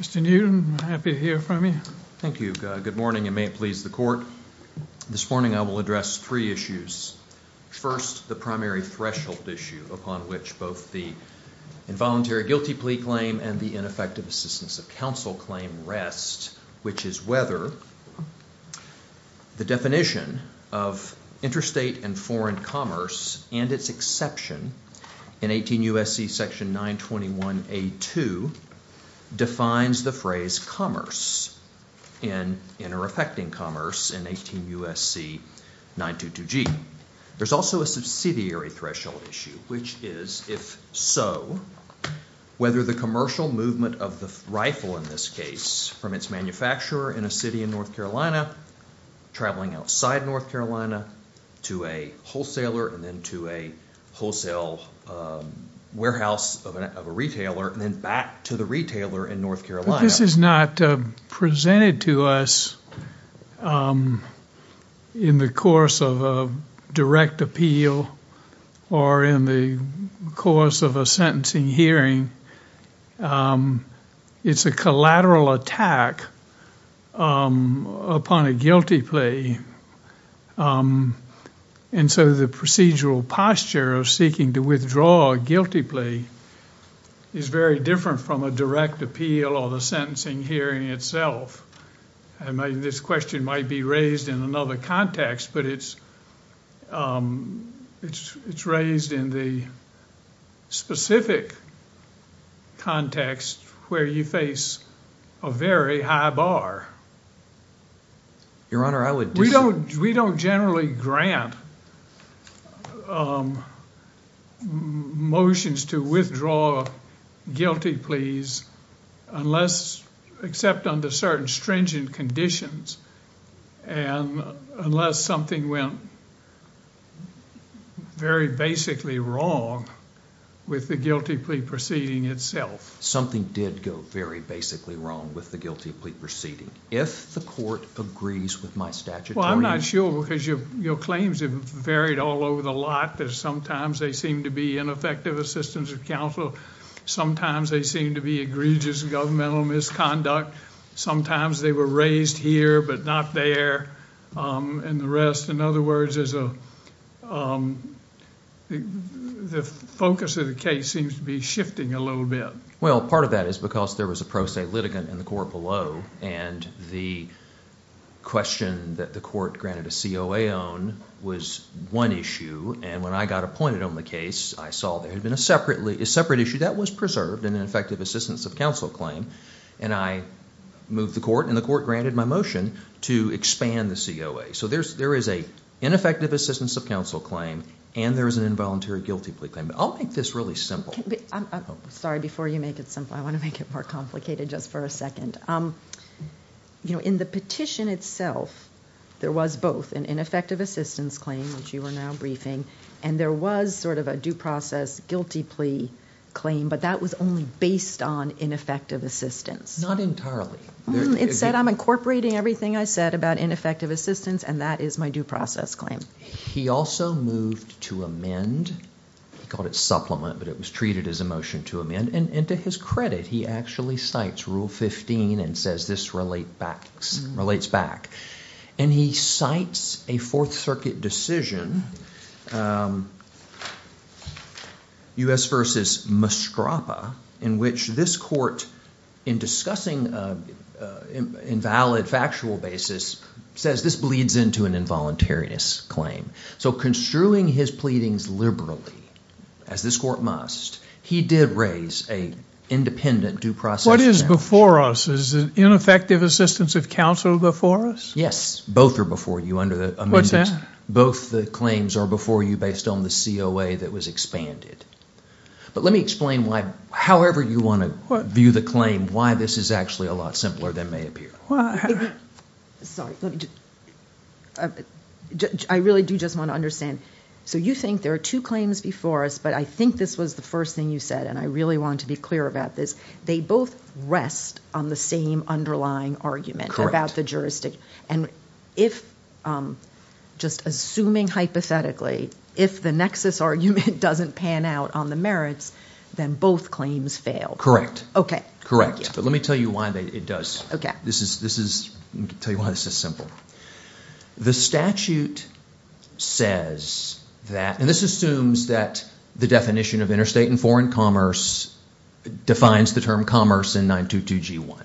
Mr. Newton, happy to hear from you. Thank you. Good morning and may it please the court. This morning I will address three issues. First, the primary threshold issue upon which both the involuntary guilty plea claim and the ineffective assistance of counsel claim rest, which is whether the definition of interstate and foreign commerce and its exception in 18 U.S.C. section 921A.2 defines the phrase commerce and inter-affecting commerce in 18 U.S.C. 922G. There's also a subsidiary threshold issue, which is if so, whether the commercial movement of the rifle in this case from its manufacturer in a city in North Carolina to a wholesaler and then to a wholesale warehouse of a retailer and then back to the retailer in North Carolina. This is not presented to us in the course of a direct appeal or in the course of a sentencing hearing. It's a lateral attack upon a guilty plea and so the procedural posture of seeking to withdraw a guilty plea is very different from a direct appeal or the sentencing hearing itself. This question might be raised in another context, but it's raised in the specific context where you face a very high bar. Your Honor, I would... We don't generally grant motions to withdraw guilty pleas unless... except with the guilty plea proceeding itself. Something did go very basically wrong with the guilty plea proceeding. If the court agrees with my statutory... Well, I'm not sure because your claims have varied all over the lot. Sometimes they seem to be ineffective assistance of counsel. Sometimes they seem to be egregious governmental misconduct. Sometimes they were raised here but not there and the rest. In other words, the focus of the case seems to be shifting a little bit. Well, part of that is because there was a pro se litigant in the court below and the question that the court granted a COA on was one issue and when I got appointed on the case, I saw there had been a separate issue that was preserved in an effective assistance of counsel claim and I moved the court and the court granted my motion to expand the COA. There is an ineffective assistance of counsel claim and there is an involuntary guilty plea claim. I'll make this really simple. Sorry, before you make it simple, I want to make it more complicated just for a second. In the petition itself, there was both an ineffective assistance claim which you were now briefing and there was a due process guilty plea claim but that was only based on ineffective assistance. Not entirely. It said I'm incorporating everything I said about ineffective assistance and that is my due process claim. He also moved to amend, he called it supplement but it was treated as a motion to amend and to his credit, he actually cites Rule 15 and says this relates back and he cites a Fourth Circuit decision, U.S. versus Mastrapa in which this court in discussing invalid factual basis says this bleeds into an involuntariness claim so construing his pleadings liberally as this court must, he did raise an independent due process. What is before us? Is it ineffective assistance of counsel before us? Yes. Both are before you under the amendments. What's that? Both the claims are before you based on the COA that was expanded. Let me explain however you want to view the claim why this is a lot simpler than may appear. Sorry. I really do just want to understand. You think there are two claims before us but I think this was the first thing you said and I really want to be clear about this. They both rest on the same underlying argument about the juristic and if just assuming hypothetically if the nexus argument doesn't pan out on the merits then both claims fail. Okay. Correct. Let me tell you why it does. Okay. Let me tell you why this is simple. The statute says that and this assumes that the definition of interstate and foreign commerce defines the term commerce in 922G1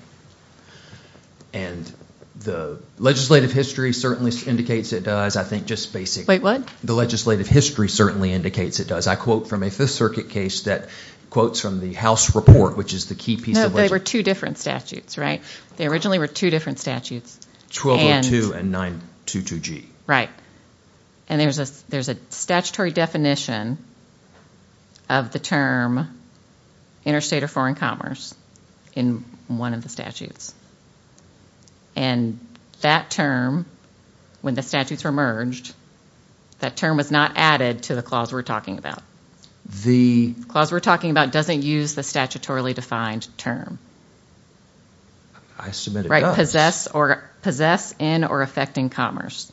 and the legislative history certainly indicates it does. I think just basic. Wait. What? The legislative history certainly indicates it does. I quote from a 5th Circuit case that quotes from the House report which is the key piece. No. They were two different statutes. Right? They originally were two different statutes. 1202 and 922G. Right. And there's a statutory definition of the term interstate or foreign commerce in one of the statutes. And that term, when the statutes were merged, that term was not added to the clause we're talking about. The clause we're talking about doesn't use the statutorily defined term. I submit it does. Possess in or effecting commerce.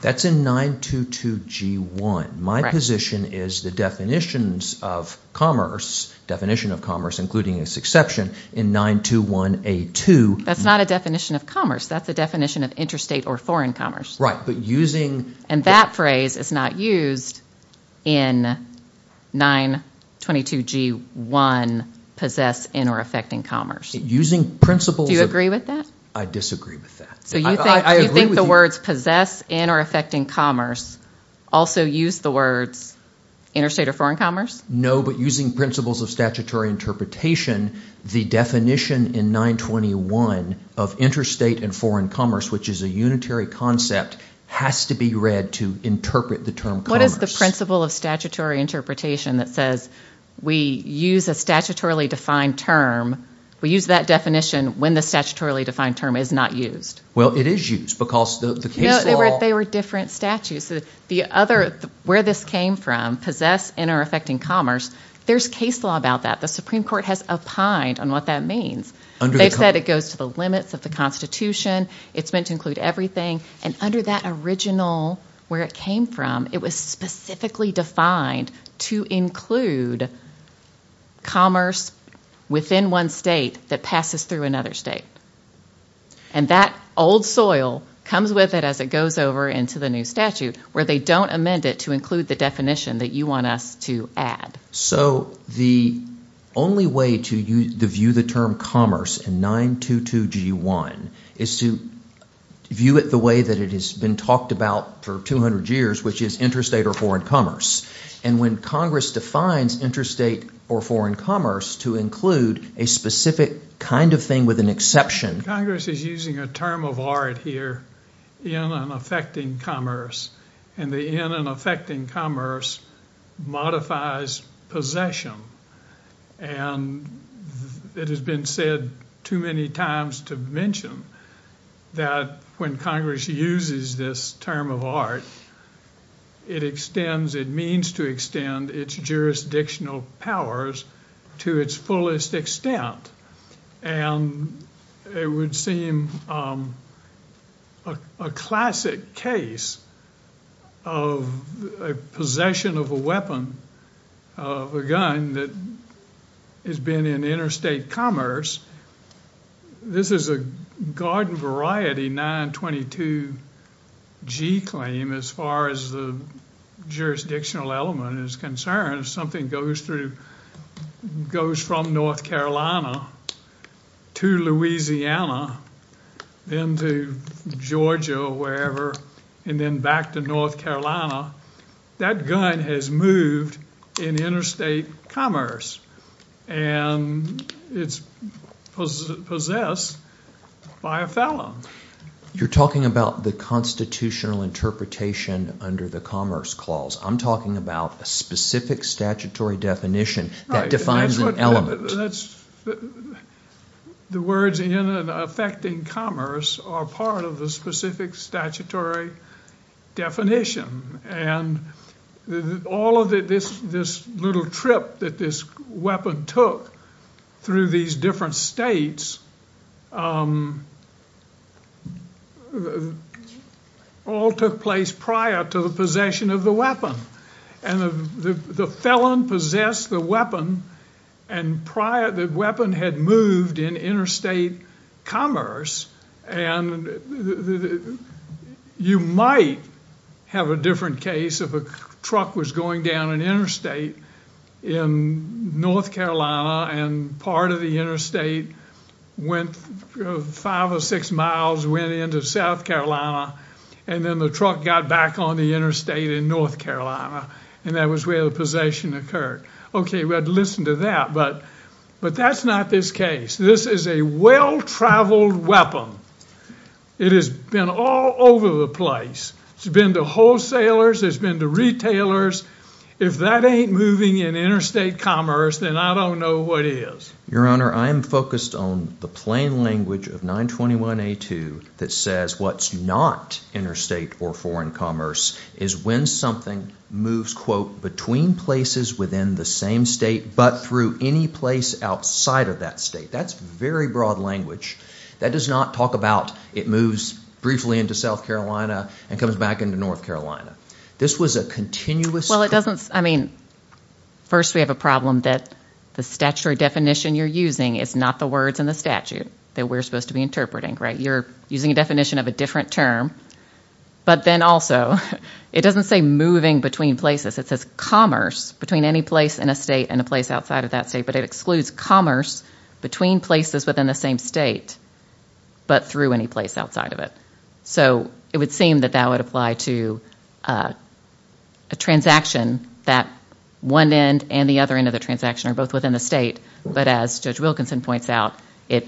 That's in 922G1. My position is the definitions of commerce, definition of commerce including a succession in 921A2. That's not a definition of commerce. That's a definition of interstate or foreign commerce. Right. But using... And that phrase is not used in 922G1 possess in or effecting commerce. Using principles... Do you agree with that? I disagree with that. I agree with you. So you think the words possess in or effecting commerce also use the words interstate or foreign commerce? No. But using principles of statutory interpretation, the definition in 921 of interstate and foreign commerce, which is a unitary concept, has to be read to interpret the term commerce. What is the principle of statutory interpretation that says we use a statutorily defined term, we use that definition when the statutorily defined term is not used? Well, it is used because the case law... They were different statutes. The other... Where this came from, possess in or effecting commerce, there's case law about that. The Supreme Court has opined on what that means. They've said it goes to the limits of the Constitution. It's meant to include everything. And under that original, where it came from, it was specifically defined to include commerce within one state that passes through another state. And that old soil comes with it as it goes over into the new statute, where they don't amend it to include the definition that you want us to add. So the only way to view the term commerce in 922G1 is to view it the way that it has been talked about for 200 years, which is interstate or foreign commerce. And when Congress defines interstate or foreign commerce to include a specific kind of thing with an exception... Congress is using a term of art here in an effecting commerce. And the in an effecting commerce modifies possession. And it has been said too many times to mention that when Congress uses this term of art, it extends, it means to extend its jurisdictional powers to its fullest extent. And it would seem a classic case of a possession of a weapon, of a gun that has been in interstate commerce. This is a garden variety 922G claim as far as the jurisdictional element is concerned. If something goes through, goes from North Carolina to Louisiana, then to Georgia or wherever, and then back to North Carolina, that gun has moved in interstate commerce and it's possessed by a felon. You're talking about the constitutional interpretation under the Commerce Clause. I'm talking about a specific statutory definition that defines an element. The words in an effecting commerce are part of the specific statutory definition and all of this little trip that this weapon took through these different states all took place prior to the possession of the weapon. And the felon possessed the weapon and prior, the weapon had moved in interstate commerce and you might have a different case if a truck was going down an interstate in North Carolina and part of the interstate went five or six miles, went into South Carolina and then the truck got back on the interstate in North Carolina and that was where the possession occurred. Okay, we had to listen to that, but that's not this case. This is a well-traveled weapon. It has been all over the place. It's been to wholesalers, it's been to retailers. If that ain't moving in interstate commerce, then I don't know what is. Your Honor, I am focused on the plain language of 921A2 that says what's not interstate or foreign commerce is when something moves, quote, between places within the same state but through any place outside of that state. That's very broad language. That does not talk about it moves briefly into South Carolina and comes back into North Carolina. This was a continuous- Well, it doesn't, I mean, first we have a problem that the statutory definition you're using is not the words in the statute that we're supposed to be interpreting, right? You're using a definition of a different term, but then also, it doesn't say moving between places. It says commerce between any place in a state and a place outside of that state, but it excludes commerce between places within the same state but through any place outside of it. So, it would seem that that would apply to a transaction that one end and the other end of the transaction are both within the state, but as Judge Wilkinson points out, it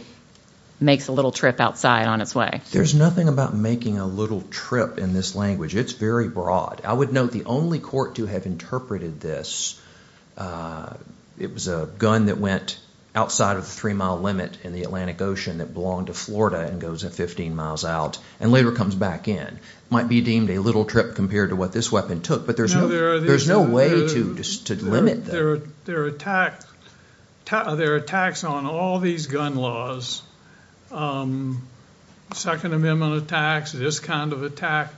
makes a little trip outside on its way. There's nothing about making a little trip in this language. It's very broad. I would note the only court to have interpreted this, it was a gun that went outside of the three-mile limit in the Atlantic Ocean that belonged to Florida and goes 15 miles out and later comes back in. Might be deemed a little trip compared to what this weapon took, but there's no way to limit that. There are attacks on all these gun laws, Second Amendment attacks, this kind of attack,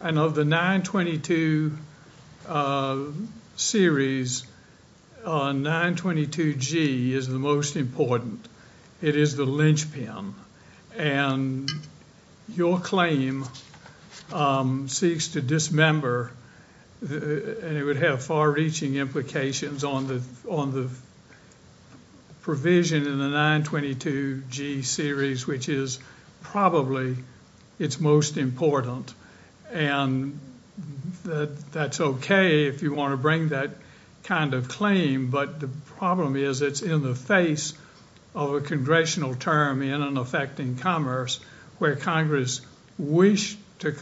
and of the 922 series, 922G is the most important. It is the linchpin, and your claim seeks to dismember, and it would have far-reaching implications on the provision in the 922G series, which is probably its most important. And that's okay if you want to bring that kind of claim, but the problem is it's in the face of a congressional term in an effect in commerce where Congress wished to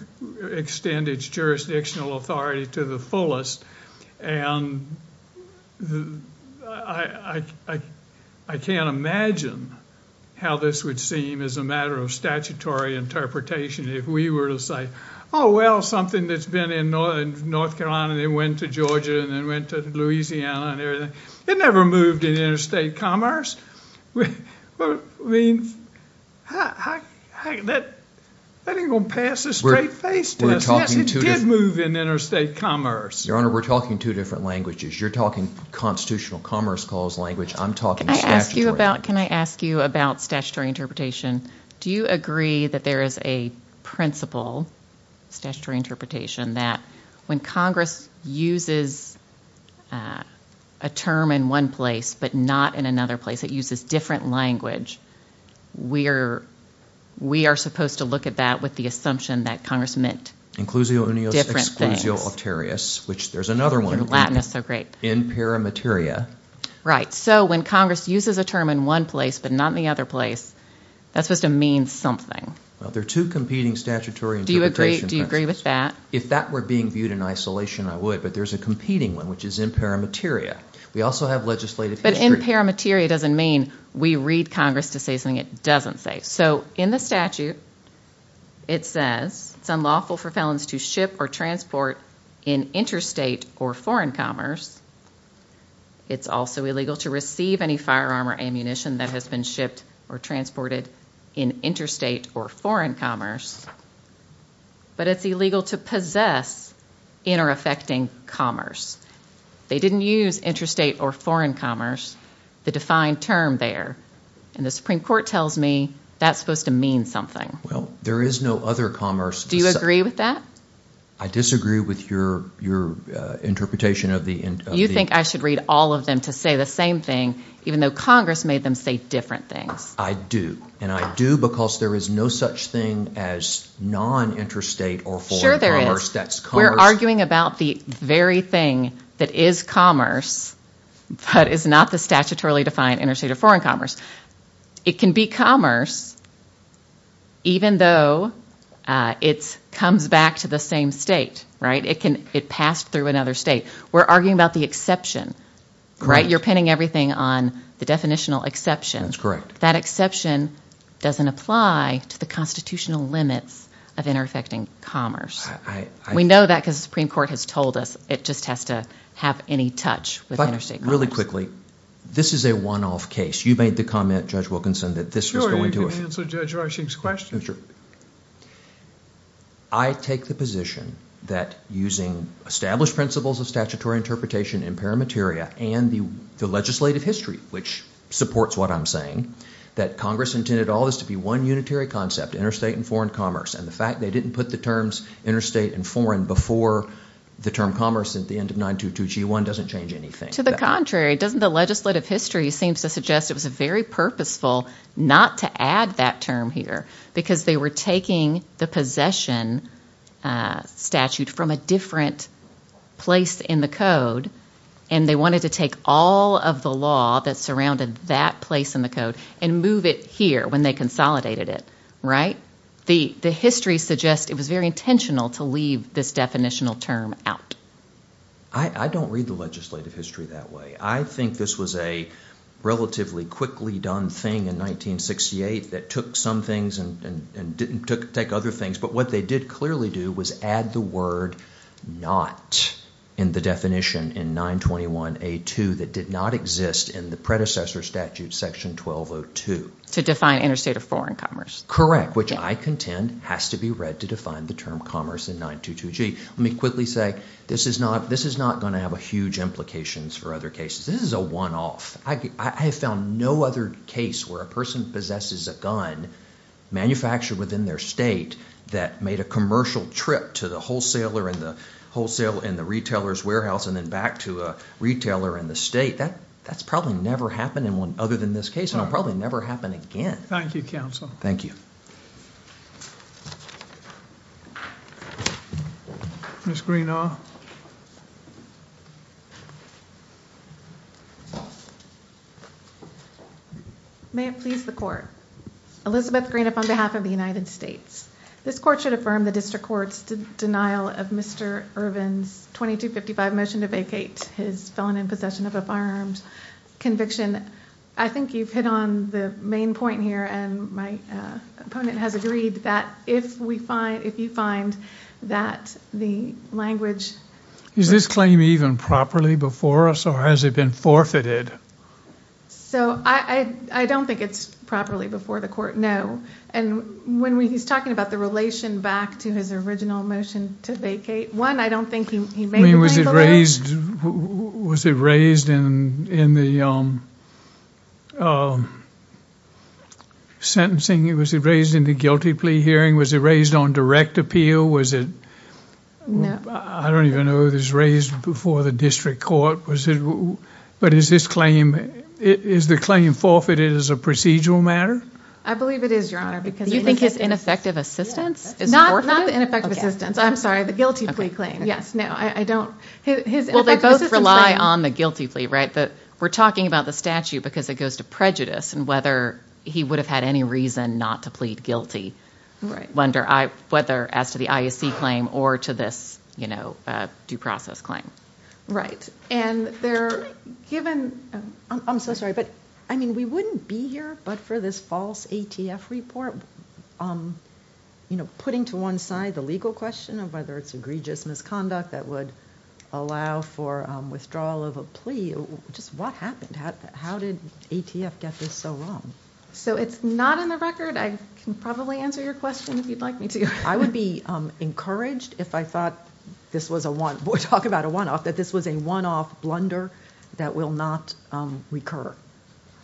extend its jurisdictional authority to the fullest. And I can't imagine how this would seem as a matter of statutory interpretation if we were to say, oh, well, something that's been in North Carolina and then went to Georgia and then went to Louisiana and everything. It never moved in interstate commerce. I mean, that ain't gonna pass a straight face to us. Yes, it did move in interstate commerce. Your Honor, we're talking two different languages. You're talking constitutional commerce clause language. I'm talking statutory language. Can I ask you about statutory interpretation? Do you agree that there is a principle, statutory interpretation, that when Congress uses a term in one place but not in another place, it uses different language, we are supposed to look at that with the assumption that Congress meant different things. Inclusio unius, exclusio auterius, which there's another one. And Latin is so great. In paramateria. Right, so when Congress uses a term in one place but not in the other place, that's supposed to mean something. Well, there are two competing statutory interpretation principles. Do you agree with that? If that were being viewed in isolation, I would, but there's a competing one, which is in paramateria. We also have legislative history. But in paramateria doesn't mean we read Congress to say something it doesn't say. So in the statute, it says, it's unlawful for felons to ship or transport in interstate or foreign commerce. It's also illegal to receive any firearm or munition that has been shipped or transported in interstate or foreign commerce. But it's illegal to possess inter-affecting commerce. They didn't use interstate or foreign commerce, the defined term there. And the Supreme Court tells me that's supposed to mean something. Well, there is no other commerce. Do you agree with that? I disagree with your interpretation of the- You think I should read all of them to say the same thing, even though Congress made them say different things? I do, and I do because there is no such thing as non-interstate or foreign commerce that's commerce- Sure there is. We're arguing about the very thing that is commerce, but is not the statutorily defined interstate or foreign commerce. It can be commerce, even though it comes back to the same state, right? It passed through another state. We're arguing about the exception, right? You're pinning everything on the definitional exception. That exception doesn't apply to the constitutional limits of inter-affecting commerce. We know that because the Supreme Court has told us it just has to have any touch with interstate commerce. Really quickly, this is a one-off case. You made the comment, Judge Wilkinson, that this was going to- Sure, you can answer Judge Rushing's question. Sure. I take the position that using established principles of statutory interpretation in paramateria and the legislative history, which supports what I'm saying, that Congress intended all this to be one unitary concept, interstate and foreign commerce. And the fact they didn't put the terms interstate and foreign before the term commerce at the end of 922G1 doesn't change anything. To the contrary, doesn't the legislative history seem to suggest it was very purposeful not to add that term here because they were taking the possession statute from a different place in the code and they wanted to take all of the law that surrounded that place in the code and move it here when they consolidated it, right? The history suggests it was very intentional to leave this definitional term out. I don't read the legislative history that way. I think this was a relatively quickly done thing in 1968 that took some things and didn't take other things, but what they did clearly do was add the word not in the definition in 921A2 that did not exist in the predecessor statute section 1202. To define interstate or foreign commerce. Correct, which I contend has to be read to define the term commerce in 922G. Let me quickly say, this is not going to have a huge implications for other cases. This is a one-off. I have found no other case where a person possesses a gun manufactured within their state that made a commercial trip to the wholesaler and the retailer's warehouse and then back to a retailer in the state. That's probably never happened other than this case and it'll probably never happen again. Thank you, counsel. Thank you. Ms. Greenaw. May it please the court. Elizabeth Greenaw on behalf of the United States. This court should affirm the district court's denial of Mr. Irvin's 2255 motion to vacate his felon in possession of a firearms conviction. I think you've hit on the main point here and my opponent has agreed that if we find, if you find that the language. Is this claim even properly before us or has it been forfeited? So, I don't think it's properly before the court, no. And when he's talking about the relation back to his original motion to vacate, one, I don't think he made the claim for that. Was it raised in the sentencing? Was it raised in the guilty plea hearing? Was it raised on direct appeal? Was it? No. I don't even know if it was raised before the district court. But is this claim, is the claim forfeited as a procedural matter? I believe it is, your honor. Do you think his ineffective assistance is forfeited? Not the ineffective assistance. I'm sorry, the guilty plea claim. No, I don't. Well, they both rely on the guilty plea, right? We're talking about the statute because it goes to prejudice and whether he would have had any reason not to plead guilty. Right. Whether as to the IAC claim or to this due process claim. And they're given, I'm so sorry, but I mean, we wouldn't be here but for this false ATF report, you know, putting to one side the legal question of whether it's egregious misconduct that would allow for withdrawal of a plea. Just what happened? How did ATF get this so wrong? So it's not in the record. I can probably answer your question if you'd like me to. I would be encouraged if I thought this was a one, we're talking about a one-off, that this was a one-off blunder that will not recur.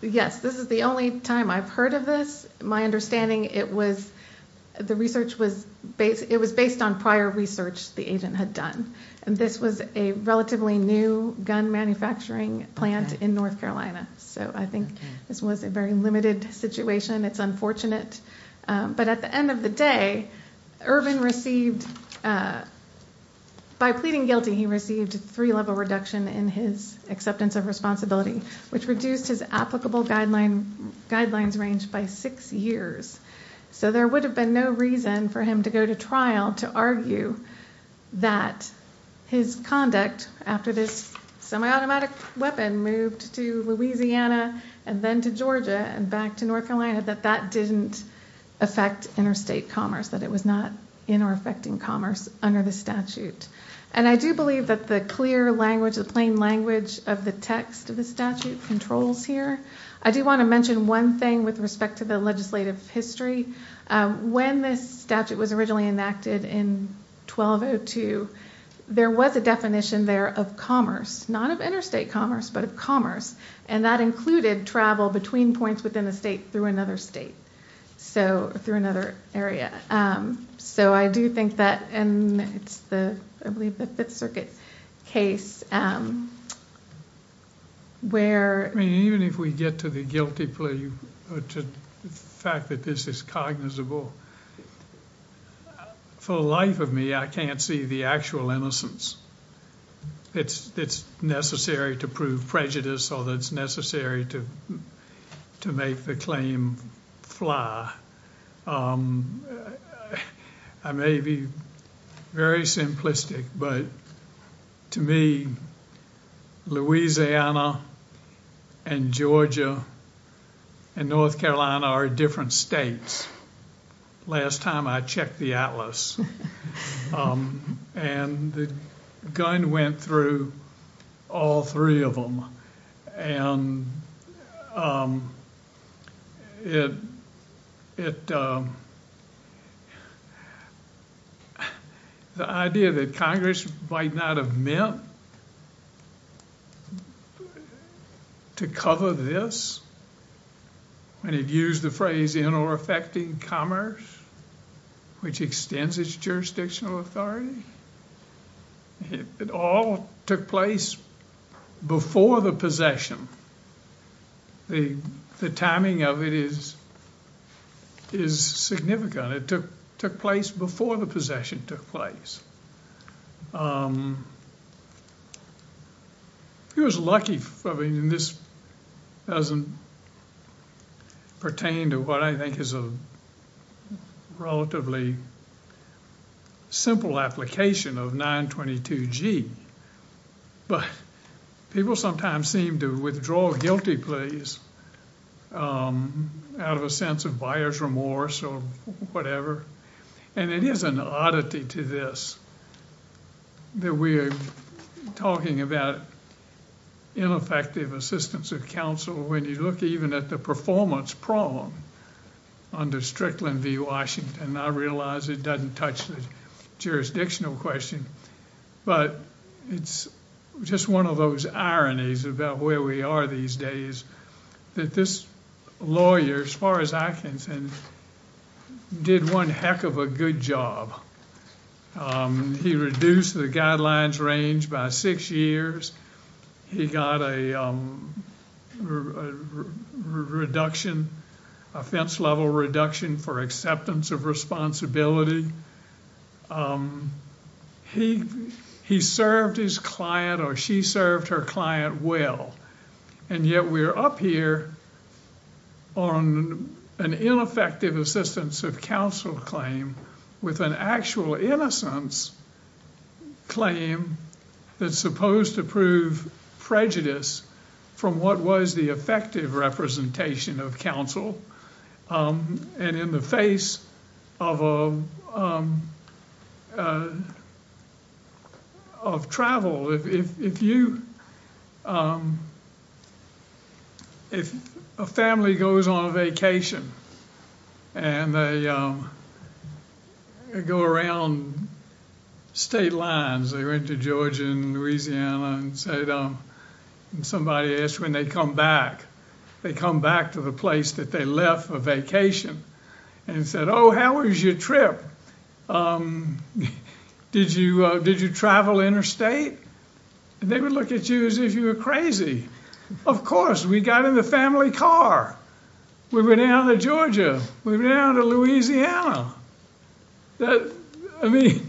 Yes, this is the only time I've heard of this. My understanding, it was, the research was based, it was based on prior research the agent had done. And this was a relatively new gun manufacturing plant in North Carolina. So I think this was a very limited situation. It's unfortunate. But at the end of the day, Irvin received, by pleading guilty, he received a three-level reduction in his acceptance of responsibility, which reduced his applicable guidelines range by six years. So there would have been no reason for him to go to trial to argue that his conduct after this semi-automatic weapon moved to Louisiana and then to Georgia and back to North Carolina, that that didn't affect interstate commerce, that it was not in or affecting commerce under the statute. And I do believe that the clear language, the plain language of the text of the statute controls here. I do want to mention one thing with respect to the legislative history. When this statute was originally enacted in 1202, there was a definition there of commerce, not of interstate commerce, but of commerce. And that included travel between points within a state through another state, so, through another area. So I do think that, and it's the, I believe the Fifth Circuit case, where... I mean, even if we get to the guilty plea, to the fact that this is cognizable, for the life of me, I can't see the actual innocence that's necessary to prove prejudice or that's necessary to make the claim fly. I may be very simplistic, but to me, Louisiana and Georgia and North Carolina are different states. Last time I checked the atlas. And the gun went through all three of them. And it... The idea that Congress might not have meant to cover this, when it used the phrase in commerce, which extends its jurisdictional authority, it all took place before the possession. The timing of it is significant. It took place before the possession took place. He was lucky, I mean, and this doesn't pertain to what I think is a relatively simple application of 922G, but people sometimes seem to withdraw guilty pleas out of a sense of buyer's remorse or whatever. And it is an oddity to this, that we are talking about ineffective assistance of counsel when you look even at the performance problem under Strickland v. Washington. I realize it doesn't touch the jurisdictional question, but it's just one of those ironies about where we are these days, that this lawyer, as far as I can tell, did one heck of a good job. He reduced the guidelines range by six years. He got a reduction, offense level reduction for acceptance of responsibility. He served his client or she served her client well, and yet we're up here on an ineffective assistance of counsel claim with an actual innocence claim that's supposed to prove prejudice from what was the effective representation of counsel. And in the face of travel, if you, if a family goes on a vacation and they go around state lines, they went to Georgia and Louisiana and said, somebody asked when they come back, they come back to the place that they left for vacation, and said, oh, how was your trip? Did you travel interstate? They would look at you as if you were crazy. Of course, we got in the family car, we went down to Georgia, we went down to Louisiana. I mean,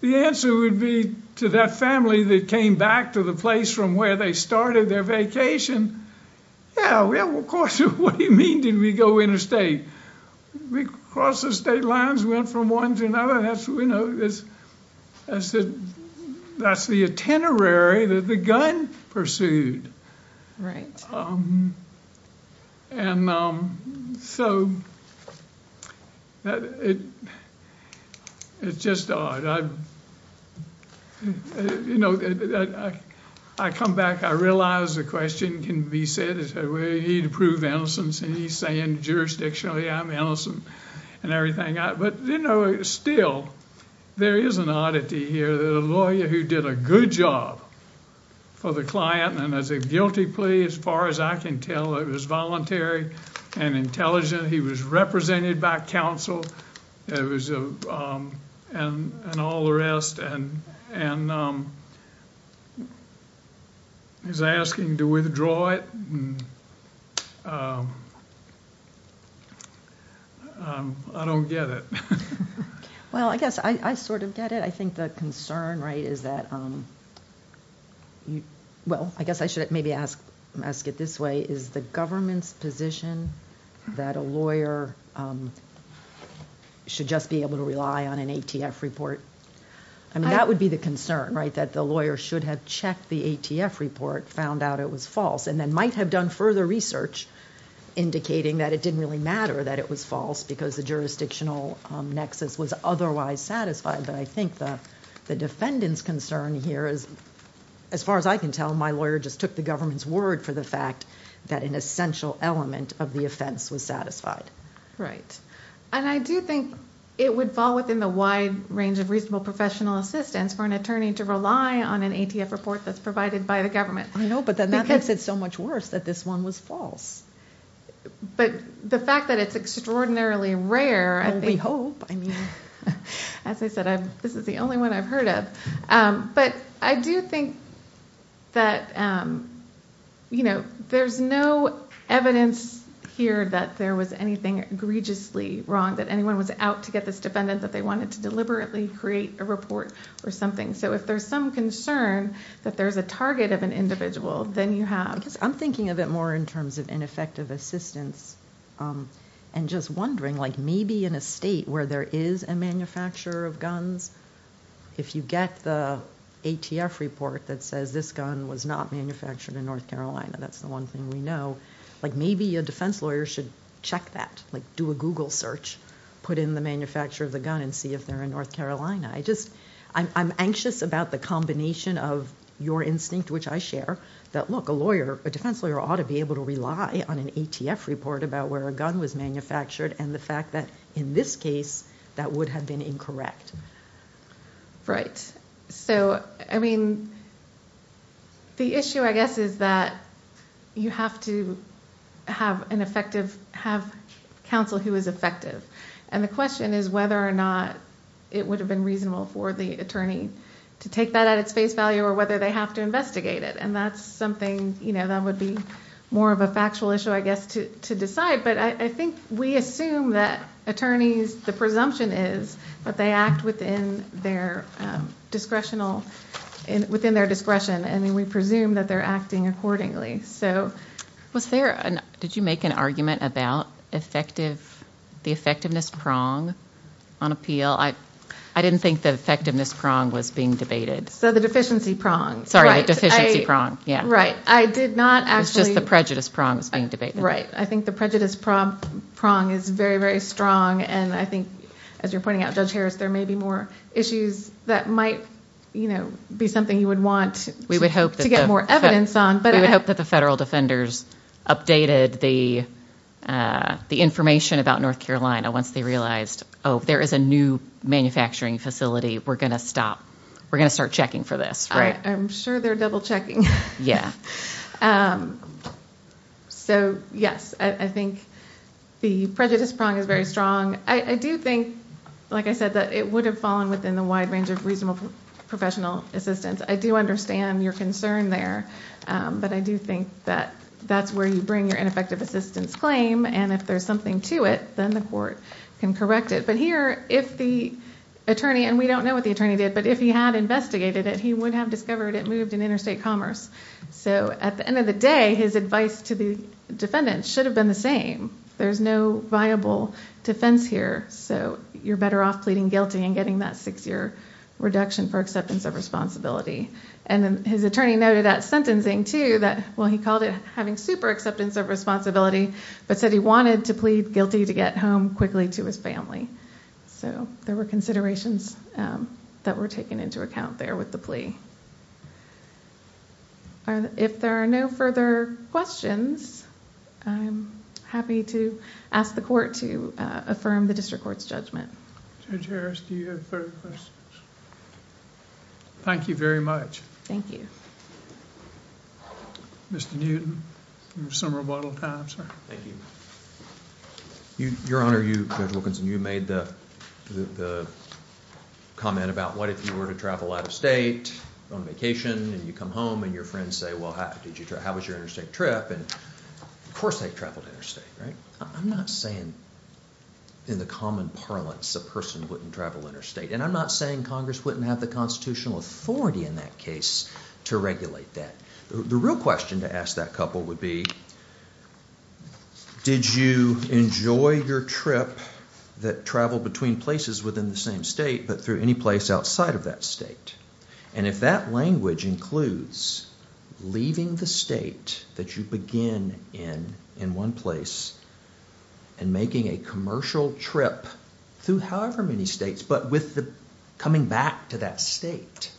the answer would be to that family that came back to the place from where they started their vacation, yeah, well, of course, what do you mean did we go interstate? We crossed the state lines, went from one to another, that's, you know, that's the itinerary that the gun pursued. And so, it's just odd, you know, I come back, I realize the question can be said, he'd prove innocence, and he's saying jurisdictionally, I'm innocent, and everything, but, you know, still, there is an oddity here that a lawyer who did a good job for the client, and as a guilty plea, as far as I can tell, it was voluntary and intelligent, he was represented by counsel, and all the rest, and he's asking to withdraw it, and I don't get it. Well, I guess I sort of get it, I think the concern, right, is that, well, I guess I should maybe ask it this way, is the government's position that a lawyer should just be able to rely on an ATF report, I mean, that would be the concern, right, that the lawyer should have checked the ATF report, found out it was false, and then might have done further research indicating that it didn't really matter that it was false, because the jurisdictional nexus was otherwise satisfied, but I think the defendant's concern here is, as far as I can tell, my lawyer just took the government's word for the fact that an essential element of the offense was satisfied. Right. And I do think it would fall within the wide range of reasonable professional assistance for an attorney to rely on an ATF report that's provided by the government. I know, but then that makes it so much worse that this one was false. But the fact that it's extraordinarily rare, I think... I mean, as I said, this is the only one I've heard of, but I do think that, you know, there's no evidence here that there was anything egregiously wrong, that anyone was out to get this defendant that they wanted to deliberately create a report or something, so if there's some concern that there's a target of an individual, then you have... I'm thinking of it more in terms of ineffective assistance, and just wondering, like maybe in a state where there is a manufacturer of guns, if you get the ATF report that says this gun was not manufactured in North Carolina, that's the one thing we know, like maybe a defense lawyer should check that, like do a Google search, put in the manufacturer of the gun and see if they're in North Carolina. I'm anxious about the combination of your instinct, which I share, that look, a lawyer, a defense lawyer ought to be able to rely on an ATF report about where a gun was manufactured and the fact that in this case, that would have been incorrect. Right. So, I mean, the issue I guess is that you have to have an effective... have counsel who is effective, and the question is whether or not it would have been reasonable for the attorney to take that at its face value or whether they have to investigate it, and that's something... that would be more of a factual issue, I guess, to decide, but I think we assume that attorneys, the presumption is that they act within their discretion, and we presume that they're acting accordingly, so... Was there... did you make an argument about effective... the effectiveness prong on appeal? I didn't think the effectiveness prong was being debated. So the deficiency prong. Sorry. The deficiency prong. Yeah. Right. I did not actually... It's just the prejudice prong that's being debated. Right. I think the prejudice prong is very, very strong, and I think, as you're pointing out, Judge Harris, there may be more issues that might be something you would want to get more evidence on, but... I don't know if you updated the information about North Carolina once they realized, oh, there is a new manufacturing facility. We're going to stop. We're going to start checking for this. I'm sure they're double-checking. So, yes, I think the prejudice prong is very strong. I do think, like I said, that it would have fallen within the wide range of reasonable professional assistance. I do understand your concern there, but I do think that that's where you bring your ineffective assistance claim, and if there's something to it, then the court can correct it. But here, if the attorney... and we don't know what the attorney did, but if he had investigated it, he would have discovered it moved in interstate commerce. So at the end of the day, his advice to the defendant should have been the same. There's no viable defense here, so you're better off pleading guilty and getting that six-year reduction for acceptance of responsibility. And his attorney noted at sentencing, too, that... well, he called it having super acceptance of responsibility, but said he wanted to plead guilty to get home quickly to his family. So there were considerations that were taken into account there with the plea. If there are no further questions, I'm happy to ask the court to affirm the district court's judgment. Judge Harris, do you have further questions? Thank you very much. Thank you. Mr. Newton. We have some rebuttal time, sir. Thank you. Your Honor, you... Judge Wilkinson, you made the comment about what if you were to travel out of state on vacation, and you come home, and your friends say, well, how was your interstate trip, and of course they've traveled interstate, right? I'm not saying in the common parlance a person wouldn't travel interstate, and I'm not saying Congress wouldn't have the constitutional authority in that case to regulate that. The real question to ask that couple would be, did you enjoy your trip that traveled between places within the same state, but through any place outside of that state? And if that language includes leaving the state that you begin in in one place and making a commercial trip through however many states, but with coming back to that state,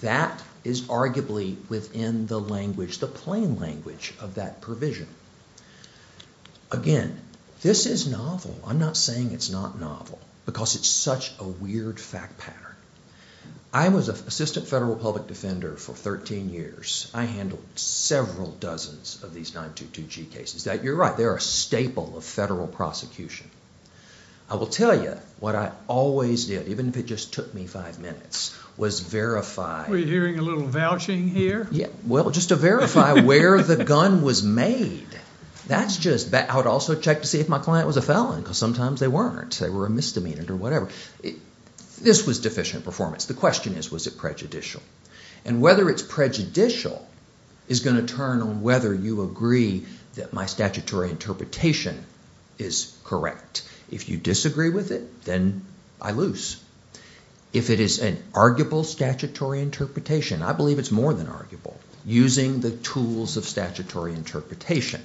that is arguably within the language, the plain language of that provision. Again, this is novel. I'm not saying it's not novel, because it's such a weird fact pattern. I was an assistant federal public defender for thirteen years. I handled several dozens of these 922G cases. You're right, they're a staple of federal prosecution. I will tell you what I always did, even if it just took me five minutes, was verify... Were you hearing a little vouching here? Yeah. Well, just to verify where the gun was made. That's just... I would also check to see if my client was a felon, because sometimes they weren't. They were a misdemeanor or whatever. This was deficient performance. The question is, was it prejudicial? And whether it's prejudicial is going to turn on whether you agree that my statutory interpretation is correct. If you disagree with it, then I lose. If it is an arguable statutory interpretation, I believe it's more than arguable, using the tools of statutory interpretation.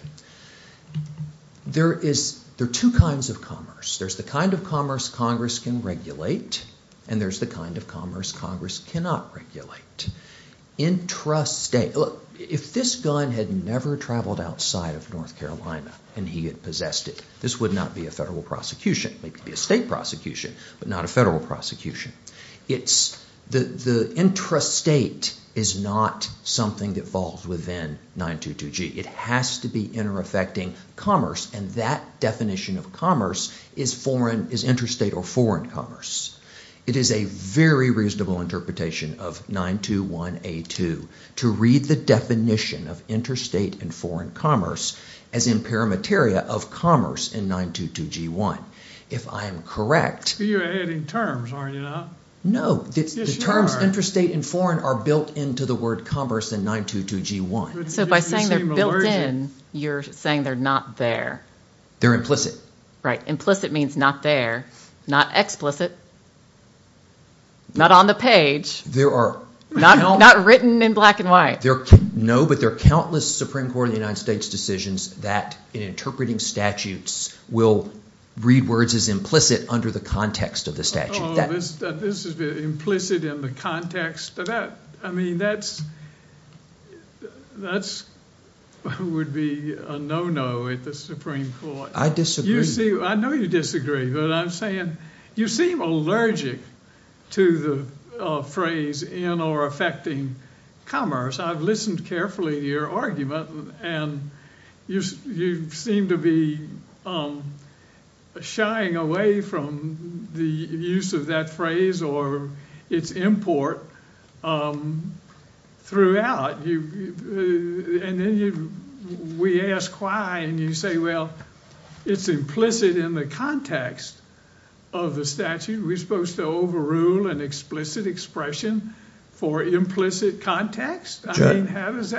There are two kinds of commerce. There's the kind of commerce Congress can regulate, and there's the kind of commerce Congress cannot regulate. Intrastate... Look, if this gun had never traveled outside of North Carolina and he had possessed it, this would not be a federal prosecution. It would be a state prosecution, but not a federal prosecution. The intrastate is not something that falls within 922G. It has to be interaffecting commerce, and that definition of commerce is intrastate or foreign commerce. It is a very reasonable interpretation of 921A2 to read the definition of intrastate and foreign commerce as imperimeteria of commerce in 922G1. If I am correct... You're adding terms, aren't you now? No. The terms intrastate and foreign are built into the word commerce in 922G1. So by saying they're built in, you're saying they're not there. They're implicit. Right. Implicit means not there, not explicit, not on the page, not written in black and white. No, but there are countless Supreme Court of the United States decisions that in interpreting statutes will read words as implicit under the context of the statute. This is implicit in the context of that. I mean, that would be a no-no at the Supreme Court. I disagree. I know you disagree, but I'm saying you seem allergic to the phrase in or affecting commerce. I've listened carefully to your argument, and you seem to be shying away from the use of that phrase or its import throughout. And then we ask why, and you say, well, it's implicit in the context of the statute. Are we supposed to overrule an explicit expression for implicit context? Because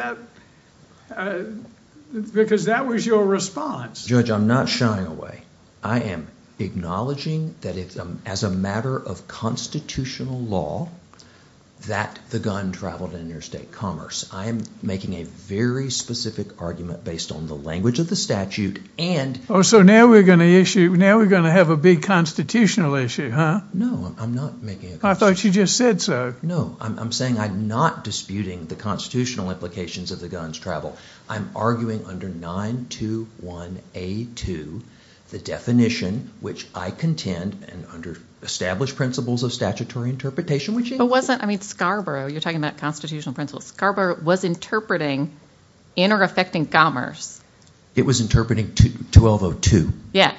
that was your response. Judge, I'm not shying away. I am acknowledging that as a matter of constitutional law, that the gun traveled in interstate commerce. I am making a very specific argument based on the language of the statute and... So now we're going to issue, now we're going to have a big constitutional issue, huh? No, I'm not making... I thought you just said so. No, I'm saying I'm not disputing the constitutional implications of the guns travel. I'm arguing under 921A2, the definition, which I contend, and under established principles of statutory interpretation, which... I mean, Scarborough, you're talking about constitutional principles. Scarborough was interpreting in or affecting commerce. It was interpreting 1202. Yeah,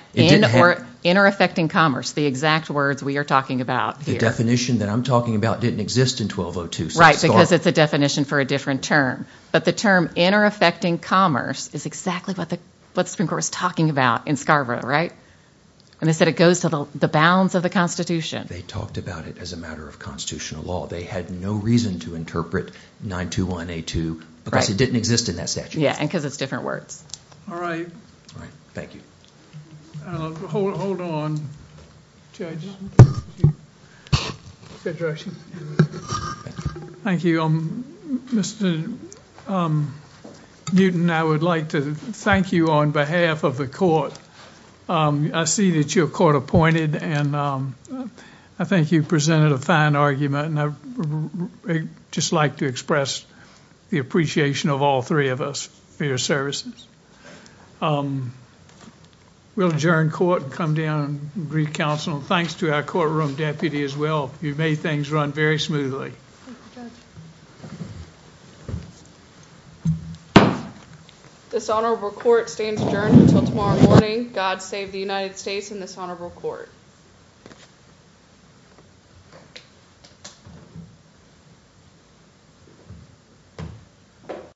in or affecting commerce, the exact words we are talking about here. The definition that I'm talking about didn't exist in 1202. Right, because it's a definition for a different term. But the term in or affecting commerce is exactly what the Supreme Court was talking about in Scarborough, right? And they said it goes to the bounds of the Constitution. They talked about it as a matter of constitutional law. They had no reason to interpret 921A2 because it didn't exist in that statute. Yeah, and because it's different words. All right. All right. Thank you. Hold on. Judge? Thank you. Mr. Newton, I would like to thank you on behalf of the court. I see that you're court appointed, and I think you presented a fine argument, and I'd just like to express the appreciation of all three of us for your services. We'll adjourn court and come down and greet counsel. Thanks to our courtroom deputy as well. You've made things run very smoothly. This honorable court stands adjourned until tomorrow morning. God save the United States and this honorable court. Thank you.